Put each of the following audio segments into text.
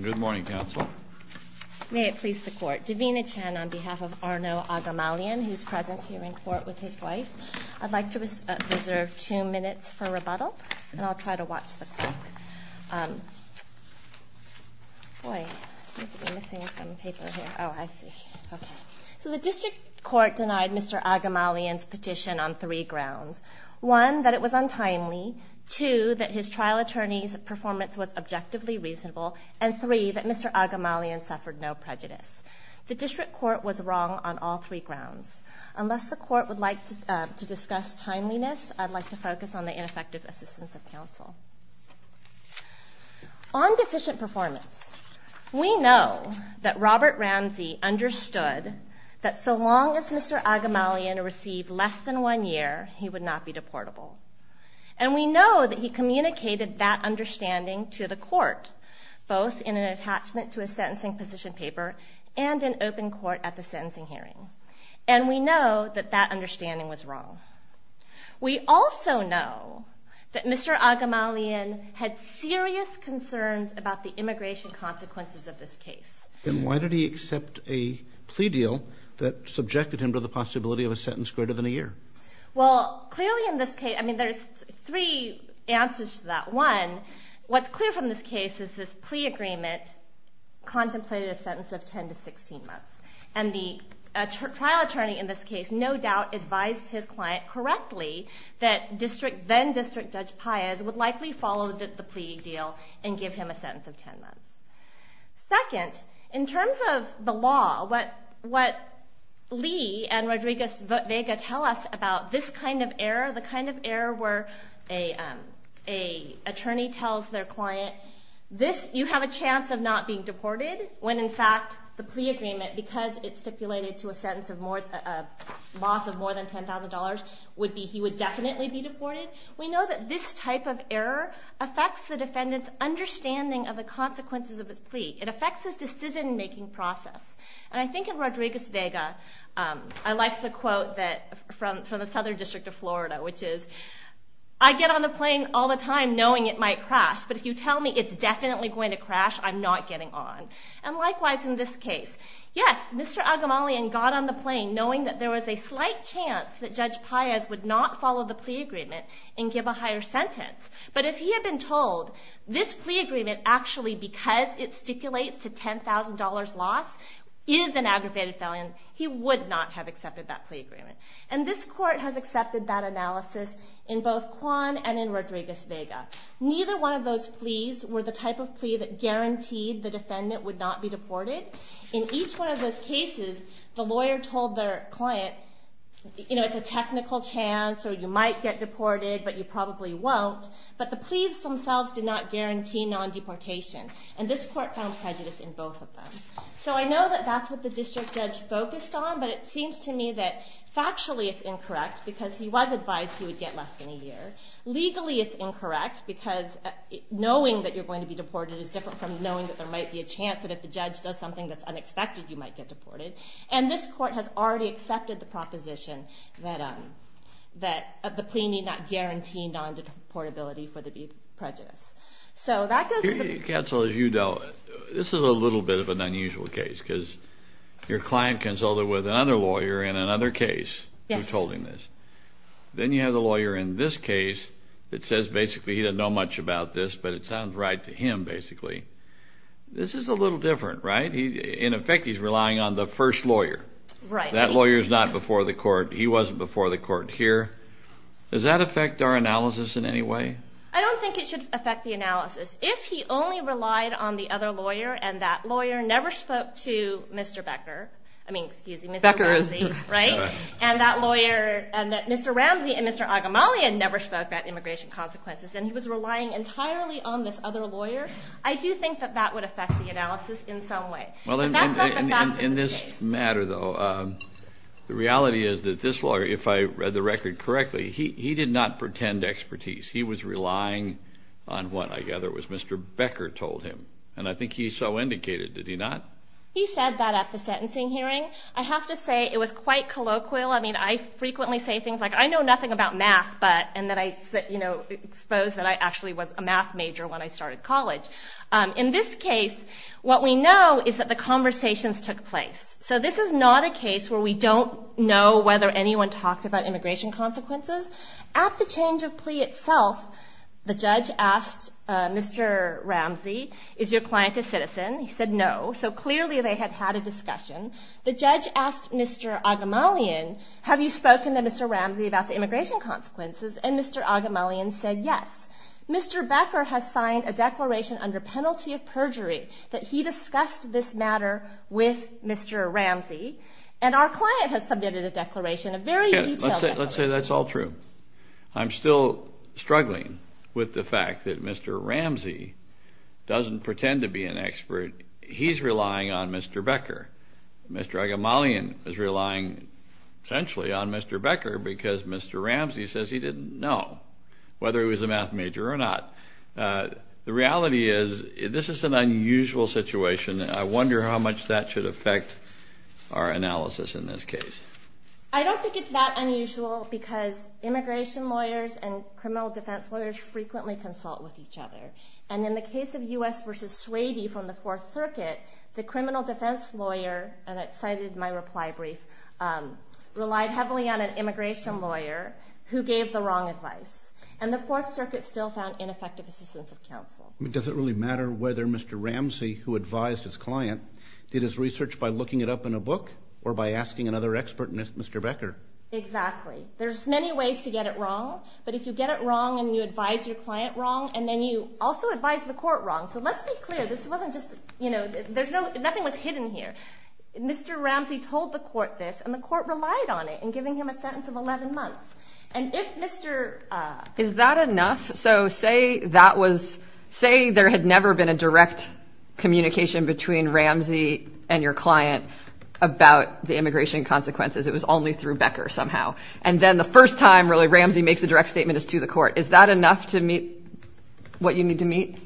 Good morning, Counsel. May it please the Court. Davina Chen on behalf of Arnou Aghamalian, who's present here in court with his wife. I'd like to reserve two minutes for rebuttal, and I'll try to watch the clock. Boy, I'm missing some paper here. Oh, I see. Okay. So the District Court denied Mr. Aghamalian's petition on three grounds. One, that it was untimely. Two, that his trial attorney's performance was objectively reasonable. And three, that Mr. Aghamalian suffered no prejudice. The District Court was wrong on all three grounds. Unless the Court would like to discuss timeliness, I'd like to focus on the ineffective assistance of counsel. On deficient performance, we know that Robert Ramsey understood that so long as Mr. Aghamalian received less than one year, he would not be deportable. And we know that he communicated that understanding to the Court, both in an attachment to a sentencing position paper and in open court at the sentencing hearing. And we know that that understanding was wrong. We also know that Mr. Aghamalian had serious concerns about the immigration consequences of this case. And why did he accept a plea deal that subjected him to the possibility of a sentence greater than a year? Well, clearly in this case, I mean, there's three answers to that. One, what's clear from this case is this plea agreement contemplated a sentence of 10 to 16 months. And the trial attorney in this case no doubt advised his client correctly that then-District Judge Paez would likely follow the plea deal and give him a sentence of 10 months. Second, in terms of the law, what Lee and Rodriguez-Vega tell us about this kind of error, the kind of error where an attorney tells their client, you have a chance of not being deported, when in fact the plea agreement, because it's stipulated to a loss of more than $10,000, he would definitely be deported. We know that this type of error affects the defendant's understanding of the consequences of his plea. It affects his decision-making process. And I think in Rodriguez-Vega, I like the quote from the Southern District of Florida, which is, I get on the plane all the time knowing it might crash, but if you tell me it's definitely going to crash, I'm not getting on. And likewise in this case. Yes, Mr. Aghamalian got on the plane knowing that there was a slight chance that Judge Paez would not follow the plea agreement and give a higher sentence. But if he had been told this plea agreement, actually because it stipulates to $10,000 loss, is an aggravated felony, he would not have accepted that plea agreement. And this court has accepted that analysis in both Kwan and in Rodriguez-Vega. Neither one of those pleas were the type of plea that guaranteed the defendant would not be deported. In each one of those cases, the lawyer told their client, you know, it's a technical chance, or you might get deported, but you probably won't. But the pleas themselves did not guarantee non-deportation. And this court found prejudice in both of them. So I know that that's what the district judge focused on, but it seems to me that factually it's incorrect, because he was advised he would get less than a year. Legally it's incorrect, because knowing that you're going to be deported is different from knowing that there might be a chance that if the judge does something that's unexpected, you might get deported. And this court has already accepted the proposition that the plea need not guarantee non-deportability for the prejudice. So that goes to the... Counsel, as you know, this is a little bit of an unusual case, because your client consulted with another lawyer in another case who told him this. Then you have the lawyer in this case that says basically he doesn't know much about this, but it sounds right to him, basically. This is a little different, right? In effect, he's relying on the first lawyer. That lawyer's not before the court. He wasn't before the court here. Does that affect our analysis in any way? I don't think it should affect the analysis. If he only relied on the other lawyer, and that lawyer never spoke to Mr. Becker. I mean, excuse me, Mr. Ramsey, right? And that lawyer... Mr. Ramsey and Mr. Agamalian never spoke about immigration consequences, and he was relying entirely on this other lawyer. I do think that that would affect the analysis in some way. That's not the fact of this case. In this matter, though, the reality is that this lawyer, if I read the record correctly, he did not pretend expertise. He was relying on what I gather was Mr. Becker told him, and I think he so indicated. Did he not? He said that at the sentencing hearing. I have to say it was quite colloquial. I mean, I frequently say things like I know nothing about math, and that I expose that I actually was a math major when I started college. In this case, what we know is that the conversations took place. So this is not a case where we don't know whether anyone talked about immigration consequences. At the change of plea itself, the judge asked Mr. Ramsey, is your client a citizen? He said no. So clearly they had had a discussion. The judge asked Mr. Agamalian, have you spoken to Mr. Ramsey about the immigration consequences? And Mr. Agamalian said yes. Mr. Becker has signed a declaration under penalty of perjury that he discussed this matter with Mr. Ramsey, and our client has submitted a declaration, a very detailed declaration. Let's say that's all true. I'm still struggling with the fact that Mr. Ramsey doesn't pretend to be an expert. He's relying on Mr. Becker. Mr. Agamalian is relying essentially on Mr. Becker because Mr. Ramsey says he didn't know whether he was a math major or not. The reality is this is an unusual situation, and I wonder how much that should affect our analysis in this case. I don't think it's that unusual because immigration lawyers and criminal defense lawyers frequently consult with each other. And in the case of U.S. v. Swaby from the Fourth Circuit, the criminal defense lawyer, and I cited my reply brief, relied heavily on an immigration lawyer who gave the wrong advice. And the Fourth Circuit still found ineffective assistance of counsel. Does it really matter whether Mr. Ramsey, who advised his client, did his research by looking it up in a book or by asking another expert, Mr. Becker? Exactly. There's many ways to get it wrong, but if you get it wrong and you advise your client wrong and then you also advise the court wrong, so let's be clear. This wasn't just, you know, there's no, nothing was hidden here. Mr. Ramsey told the court this, and the court relied on it in giving him a sentence of 11 months. And if Mr. Is that enough? So say that was, say there had never been a direct communication between Ramsey and your client about the immigration consequences. It was only through Becker somehow. And then the first time really Ramsey makes a direct statement is to the court. Is that enough to meet what you need to meet?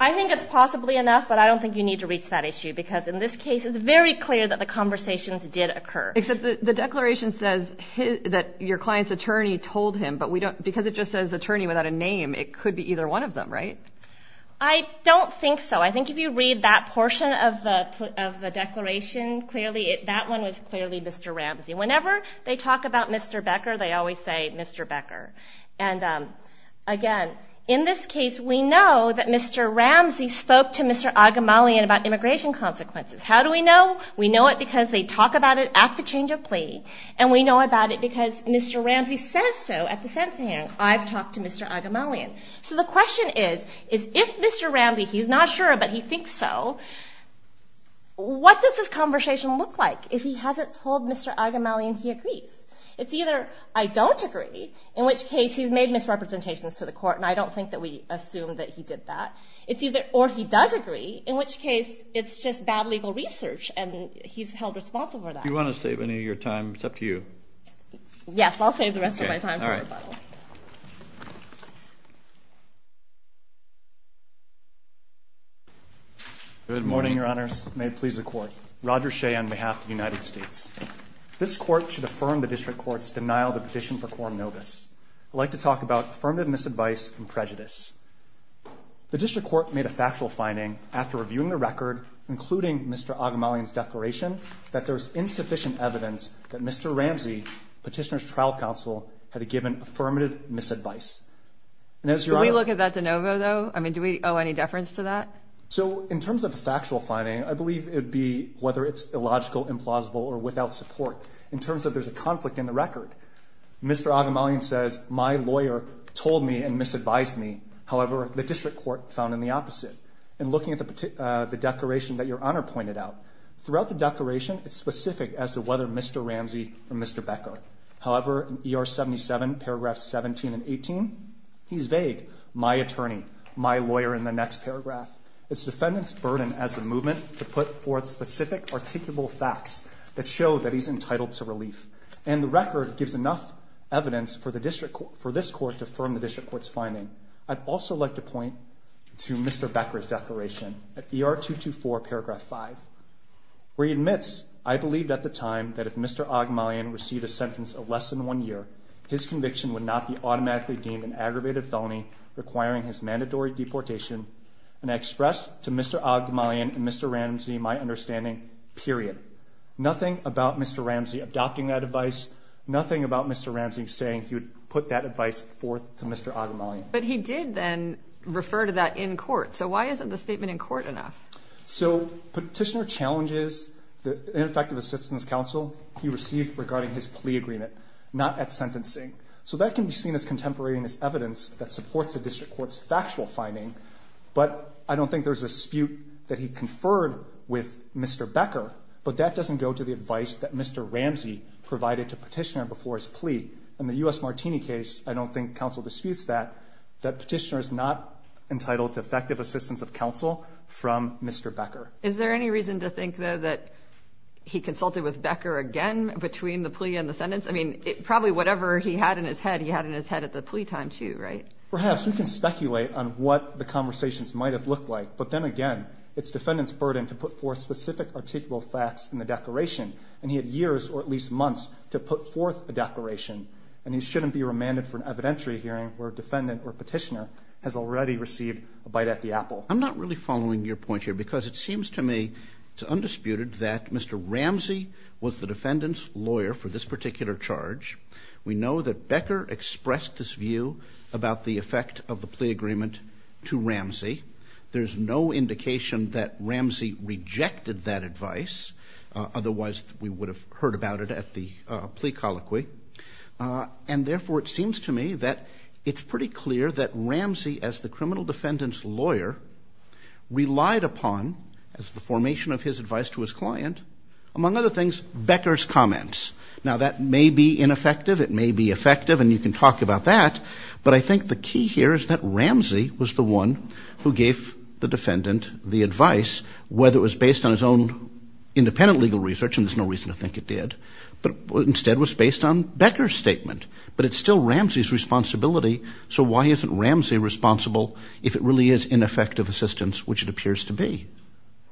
I think it's possibly enough, but I don't think you need to reach that issue, because in this case it's very clear that the conversations did occur. Except the declaration says that your client's attorney told him, but because it just says attorney without a name, it could be either one of them, right? I don't think so. I think if you read that portion of the declaration, that one was clearly Mr. Ramsey. Whenever they talk about Mr. Becker, they always say Mr. Becker. And, again, in this case we know that Mr. Ramsey spoke to Mr. Agamalian about immigration consequences. How do we know? We know it because they talk about it at the change of plea, and we know about it because Mr. Ramsey says so at the sentencing hearing. I've talked to Mr. Agamalian. So the question is, is if Mr. Ramsey, he's not sure but he thinks so, what does this conversation look like if he hasn't told Mr. Agamalian he agrees? It's either I don't agree, in which case he's made misrepresentations to the court, and I don't think that we assume that he did that, or he does agree, in which case it's just bad legal research and he's held responsible for that. Do you want to save any of your time? It's up to you. Yes, I'll save the rest of my time for rebuttal. Okay. Good morning, Your Honors. May it please the Court. Roger Shea on behalf of the United States. This Court should affirm the District Court's denial of the petition for quorum nobis. I'd like to talk about affirmative misadvice and prejudice. The District Court made a factual finding after reviewing the record, including Mr. Agamalian's declaration, that there was insufficient evidence that Mr. Ramsey, Petitioner's trial counsel, had given affirmative misadvice. And as Your Honor ---- Could we look at that de novo, though? I mean, do we owe any deference to that? So in terms of the factual finding, I believe it would be whether it's illogical, implausible, or without support. In terms of there's a conflict in the record, Mr. Agamalian says, my lawyer told me and misadvised me. However, the District Court found in the opposite. And looking at the declaration that Your Honor pointed out, throughout the declaration it's specific as to whether Mr. Ramsey or Mr. Becker. However, in ER 77, paragraphs 17 and 18, he's vague. My attorney, my lawyer in the next paragraph. It's defendant's burden as a movement to put forth specific, articulable facts that show that he's entitled to relief. And the record gives enough evidence for the District Court ---- for this Court to affirm the District Court's finding. I'd also like to point to Mr. Becker's declaration at ER 224, paragraph 5, where he admits, I believed at the time that if Mr. Agamalian received a sentence of less than one year, his conviction would not be automatically deemed an aggravated felony requiring his mandatory deportation. And I expressed to Mr. Agamalian and Mr. Ramsey my understanding, period. Nothing about Mr. Ramsey adopting that advice. Nothing about Mr. Ramsey saying he would put that advice forth to Mr. Agamalian. But he did then refer to that in court. So why isn't the statement in court enough? So Petitioner challenges the ineffective assistance counsel he received regarding his plea agreement, not at sentencing. So that can be seen as contemporaneous evidence that supports the District Court's factual finding. But I don't think there's a dispute that he conferred with Mr. Becker. But that doesn't go to the advice that Mr. Ramsey provided to Petitioner before his plea. In the U.S. Martini case, I don't think counsel disputes that, that Petitioner is not entitled to effective assistance of counsel from Mr. Becker. Is there any reason to think, though, that he consulted with Becker again between the plea and the sentence? I mean, probably whatever he had in his head, he had in his head at the plea time, too, right? Perhaps. We can speculate on what the conversations might have looked like. But then again, it's defendant's burden to put forth specific articulable facts in the declaration. And he had years or at least months to put forth a declaration. And he shouldn't be remanded for an evidentiary hearing where a defendant or Petitioner has already received a bite at the apple. I'm not really following your point here because it seems to me it's undisputed that Mr. Ramsey was the defendant's lawyer for this particular charge. We know that Becker expressed this view about the effect of the plea agreement to Ramsey. There's no indication that Ramsey rejected that advice. Otherwise, we would have heard about it at the plea colloquy. And therefore, it seems to me that it's pretty clear that Ramsey, as the criminal defendant's lawyer, relied upon, as the formation of his advice to his client, among other things, Becker's comments. Now, that may be ineffective, it may be effective, and you can talk about that. But I think the key here is that Ramsey was the one who gave the defendant the advice, whether it was based on his own independent legal research, and there's no reason to think it did, but instead was based on Becker's statement. But it's still Ramsey's responsibility. So why isn't Ramsey responsible if it really is ineffective assistance, which it appears to be?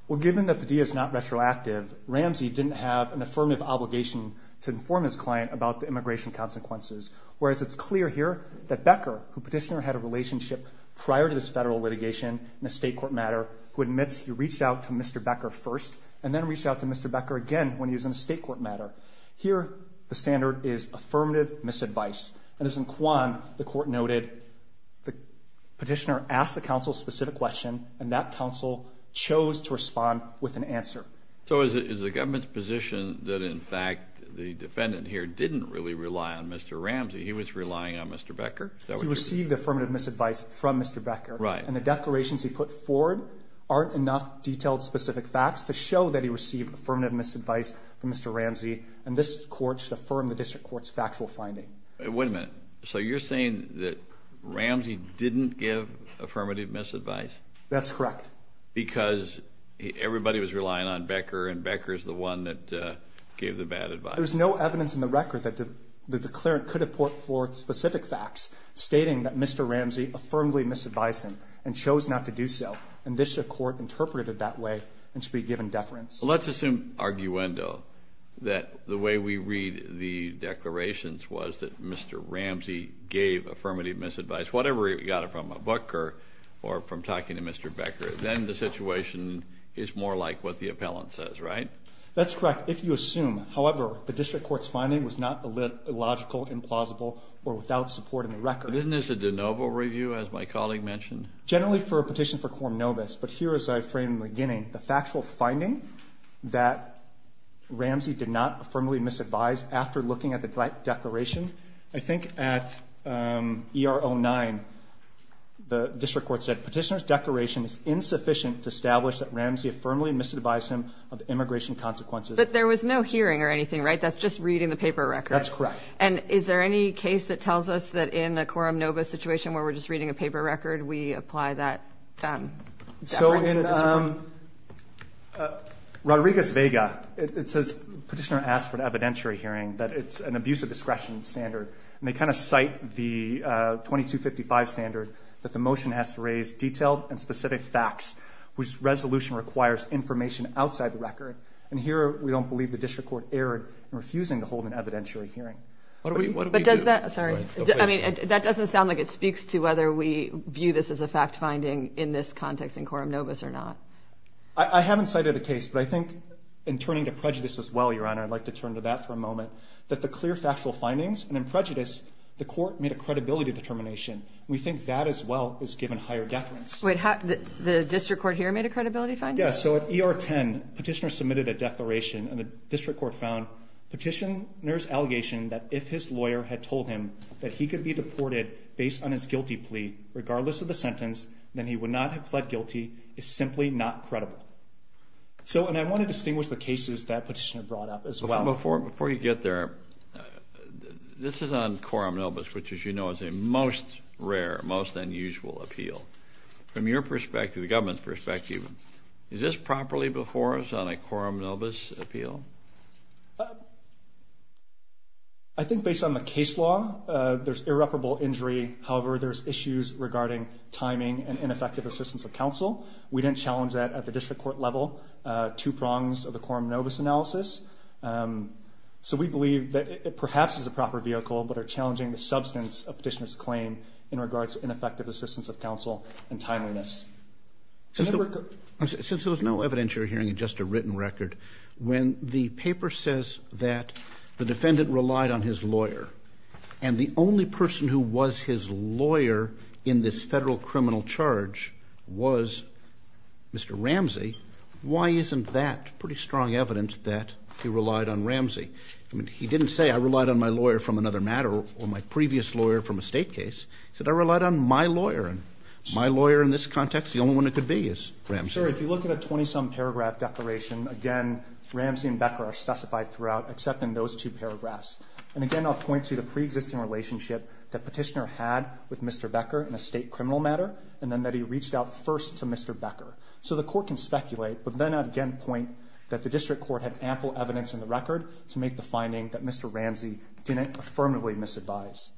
Well, given that the deed is not retroactive, Ramsey didn't have an affirmative obligation to inform his client about the immigration consequences, whereas it's clear here that Becker, who petitioner had a relationship prior to this federal litigation in a state court matter, who admits he reached out to Mr. Becker first, and then reached out to Mr. Becker again when he was in a state court matter. Here, the standard is affirmative misadvice. And as in Quan, the court noted the petitioner asked the counsel a specific question, and that counsel chose to respond with an answer. So is the government's position that, in fact, the defendant here didn't really rely on Mr. Ramsey? He was relying on Mr. Becker? He received affirmative misadvice from Mr. Becker. Right. And the declarations he put forward aren't enough detailed specific facts to show that he received affirmative misadvice from Mr. Ramsey, and this court should affirm the district court's factual finding. Wait a minute. So you're saying that Ramsey didn't give affirmative misadvice? That's correct. Because everybody was relying on Becker, and Becker's the one that gave the bad advice. There's no evidence in the record that the declarant could have put forth specific facts stating that Mr. Ramsey affirmably misadvised him and chose not to do so, and this court interpreted that way and should be given deference. Let's assume arguendo, that the way we read the declarations was that Mr. Ramsey gave affirmative misadvice, whatever he got from a book or from talking to Mr. Becker. Then the situation is more like what the appellant says, right? That's correct, if you assume. However, the district court's finding was not illogical, implausible, or without support in the record. Isn't this a de novo review, as my colleague mentioned? Generally for a petition for quorum novus, but here, as I framed in the beginning, the factual finding that Ramsey did not affirmably misadvise after looking at the declaration. I think at ER09, the district court said, Petitioner's declaration is insufficient to establish that Ramsey affirmably misadvised him of immigration consequences. But there was no hearing or anything, right? That's just reading the paper record. That's correct. And is there any case that tells us that in a quorum novus situation where we're just reading a paper record, we apply that? So in Rodriguez-Vega, it says, Petitioner asked for an evidentiary hearing, that it's an abuse of discretion standard. And they kind of cite the 2255 standard that the motion has to raise detailed and specific facts, which resolution requires information outside the record. And here, we don't believe the district court erred in refusing to hold an evidentiary hearing. What do we do? Sorry. I mean, that doesn't sound like it speaks to whether we view this as a fact finding in this context in quorum novus or not. I haven't cited a case, but I think in turning to prejudice as well, Your Honor, I'd like to turn to that for a moment, that the clear factual findings and in prejudice, the court made a credibility determination. We think that as well is given higher deference. Wait, the district court here made a credibility finding? Yeah. So at ER10, Petitioner submitted a declaration and the district court found Petitioner's lawyer had told him that he could be deported based on his guilty plea, regardless of the sentence, then he would not have fled guilty. It's simply not credible. So, and I want to distinguish the cases that Petitioner brought up as well. Before you get there, this is on quorum novus, which as you know, is a most rare, most unusual appeal. From your perspective, the government's perspective, is this properly before us on a quorum novus appeal? I think based on the case law, there's irreparable injury. However, there's issues regarding timing and ineffective assistance of counsel. We didn't challenge that at the district court level, two prongs of the quorum novus analysis. So we believe that it perhaps is a proper vehicle, but are challenging the substance of Petitioner's claim in regards to ineffective assistance of counsel and timeliness. Since there was no evidence you're hearing in just a written record, when the paper says that the defendant relied on his lawyer and the only person who was his lawyer in this federal criminal charge was Mr. Ramsey, why isn't that pretty strong evidence that he relied on Ramsey? I mean, he didn't say, I relied on my lawyer from another matter or my previous lawyer from a state case. He said, I relied on my lawyer and my lawyer in this context, the only one that could be is Ramsey. Sure. If you look at a 20 some paragraph declaration, again, Ramsey and Becker are specified throughout, except in those two paragraphs. And again, I'll point to the preexisting relationship that Petitioner had with Mr. Becker in a state criminal matter. And then that he reached out first to Mr. Becker. So the court can speculate, but then again, point that the district court had ample evidence in the record to make the finding that Mr. Ramsey didn't affirmatively misadvise.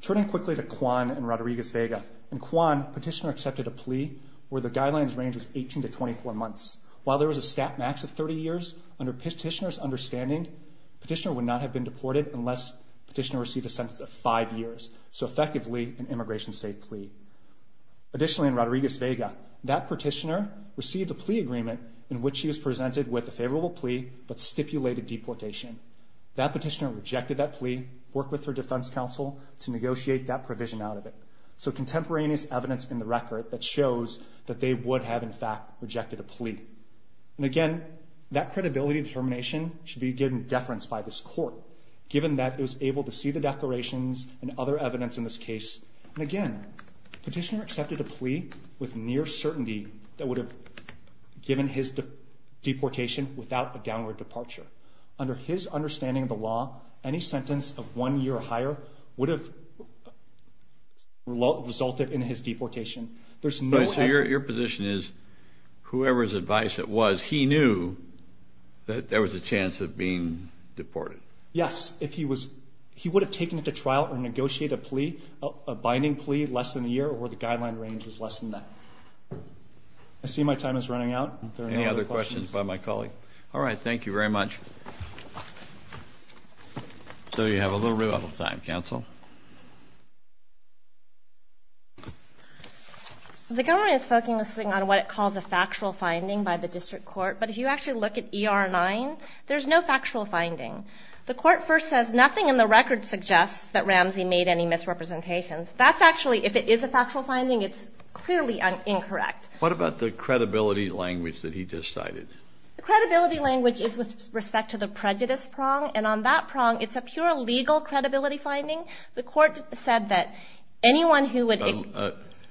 Turning quickly to Kwan and Rodriguez Vega and Kwan, Petitioner accepted a plea where the guidelines range was 18 to 24 months. While there was a stat max of 30 years under Petitioner's understanding, Petitioner would not have been deported unless Petitioner received a sentence of five years. So effectively an immigration state plea. Additionally, in Rodriguez Vega, that Petitioner received a plea agreement in which he was presented with a favorable plea, but stipulated deportation. That Petitioner rejected that plea, work with her defense counsel to negotiate that provision out of it. So contemporaneous evidence in the record that shows that they would have in fact rejected a plea. And again, that credibility determination should be given deference by this court, given that it was able to see the declarations and other evidence in this case. And again, Petitioner accepted a plea with near certainty that would have given his deportation without a downward departure. Under his understanding of the law, any sentence of one year or higher would have resulted in his deportation. Your position is whoever's advice it was, he knew that there was a chance of being deported. Yes. If he was, he would have taken it to trial or negotiate a plea, a binding plea less than a year or where the guideline range is less than that. I see my time is running out. Any other questions by my colleague? All right. Thank you very much. So you have a little bit of time council. The government is focusing on what it calls a factual finding by the district court. But if you actually look at ER nine, there's no factual finding. The court first says nothing in the record suggests that Ramsey made any misrepresentations. That's actually, if it is a factual finding, it's clearly an incorrect. What about the credibility language that he decided? The credibility language is with respect to the prejudice prong. And on that prong, it's a pure legal credibility finding. The court said that anyone who would.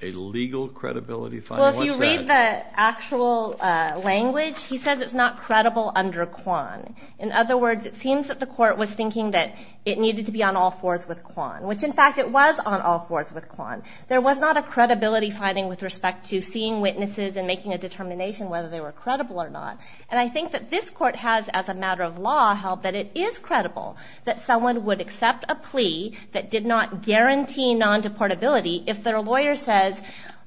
A legal credibility. Well, if you read the actual language, he says it's not credible under Kwan. In other words, it seems that the court was thinking that it needed to be on all fours with Kwan, which in fact it was on all fours with Kwan. There was not a credibility finding with respect to seeing witnesses and making a determination whether they were credible or not. And I think that this court has as a matter of law held that it is credible that someone would accept a plea that did not guarantee non deportability if their lawyer says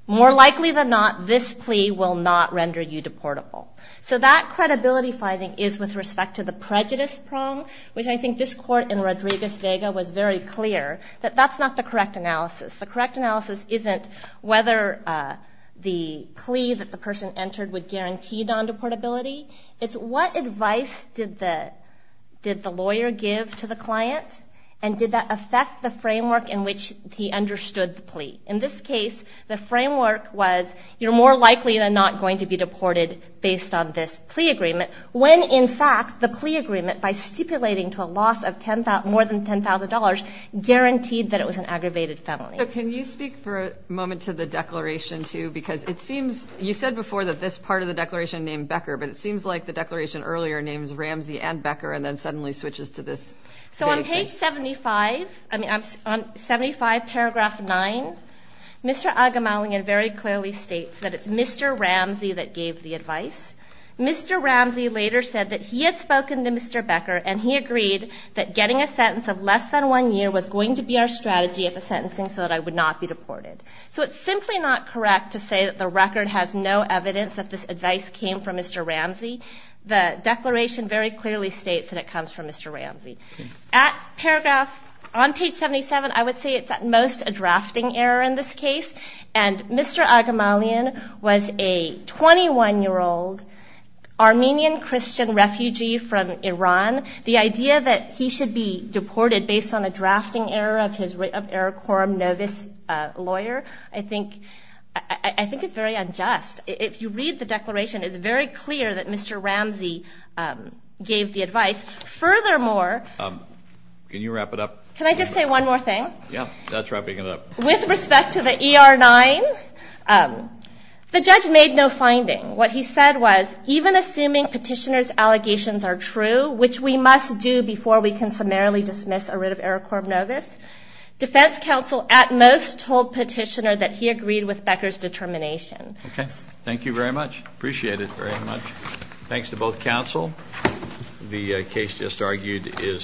more likely than not, this plea will not render you deportable. So that credibility finding is with respect to the prejudice prong, which I think this court in Rodriguez Vega was very clear that that's not the correct analysis. The correct analysis isn't whether the plea that the person entered would guarantee. It's what advice did the, did the lawyer give to the client and did that affect the framework in which he understood the plea? In this case, the framework was, you're more likely than not going to be deported based on this plea agreement when in fact the plea agreement by stipulating to a loss of 10,000, more than $10,000 guaranteed that it was an aggravated felony. Can you speak for a moment to the declaration too, because it seems you said before that this part of the declaration named Ramsey and Becker and then suddenly switches to this. So on page 75, I mean, I'm on 75 paragraph nine, Mr. Agamalian very clearly states that it's Mr. Ramsey that gave the advice. Mr. Ramsey later said that he had spoken to Mr. Becker and he agreed that getting a sentence of less than one year was going to be our strategy at the sentencing so that I would not be deported. So it's simply not correct to say that the record has no evidence that this was Mr. Ramsey. The declaration very clearly states that it comes from Mr. Ramsey at paragraph on page 77. I would say it's at most a drafting error in this case. And Mr. Agamalian was a 21 year old Armenian Christian refugee from Iran. The idea that he should be deported based on a drafting error of his record. No, this lawyer, I think, I think it's very unjust. If you read the declaration, it's very clear that Mr. Ramsey gave the advice. Furthermore, Can you wrap it up? Can I just say one more thing? Yeah, that's wrapping it up. With respect to the ER-9, the judge made no finding. What he said was, even assuming petitioner's allegations are true, which we must do before we can summarily dismiss or rid of Eric Corbnovus, defense counsel at most told petitioner that he agreed with Becker's determination. Okay. Thank you very much. Appreciate it very much. Thanks to both counsel. The case just argued is.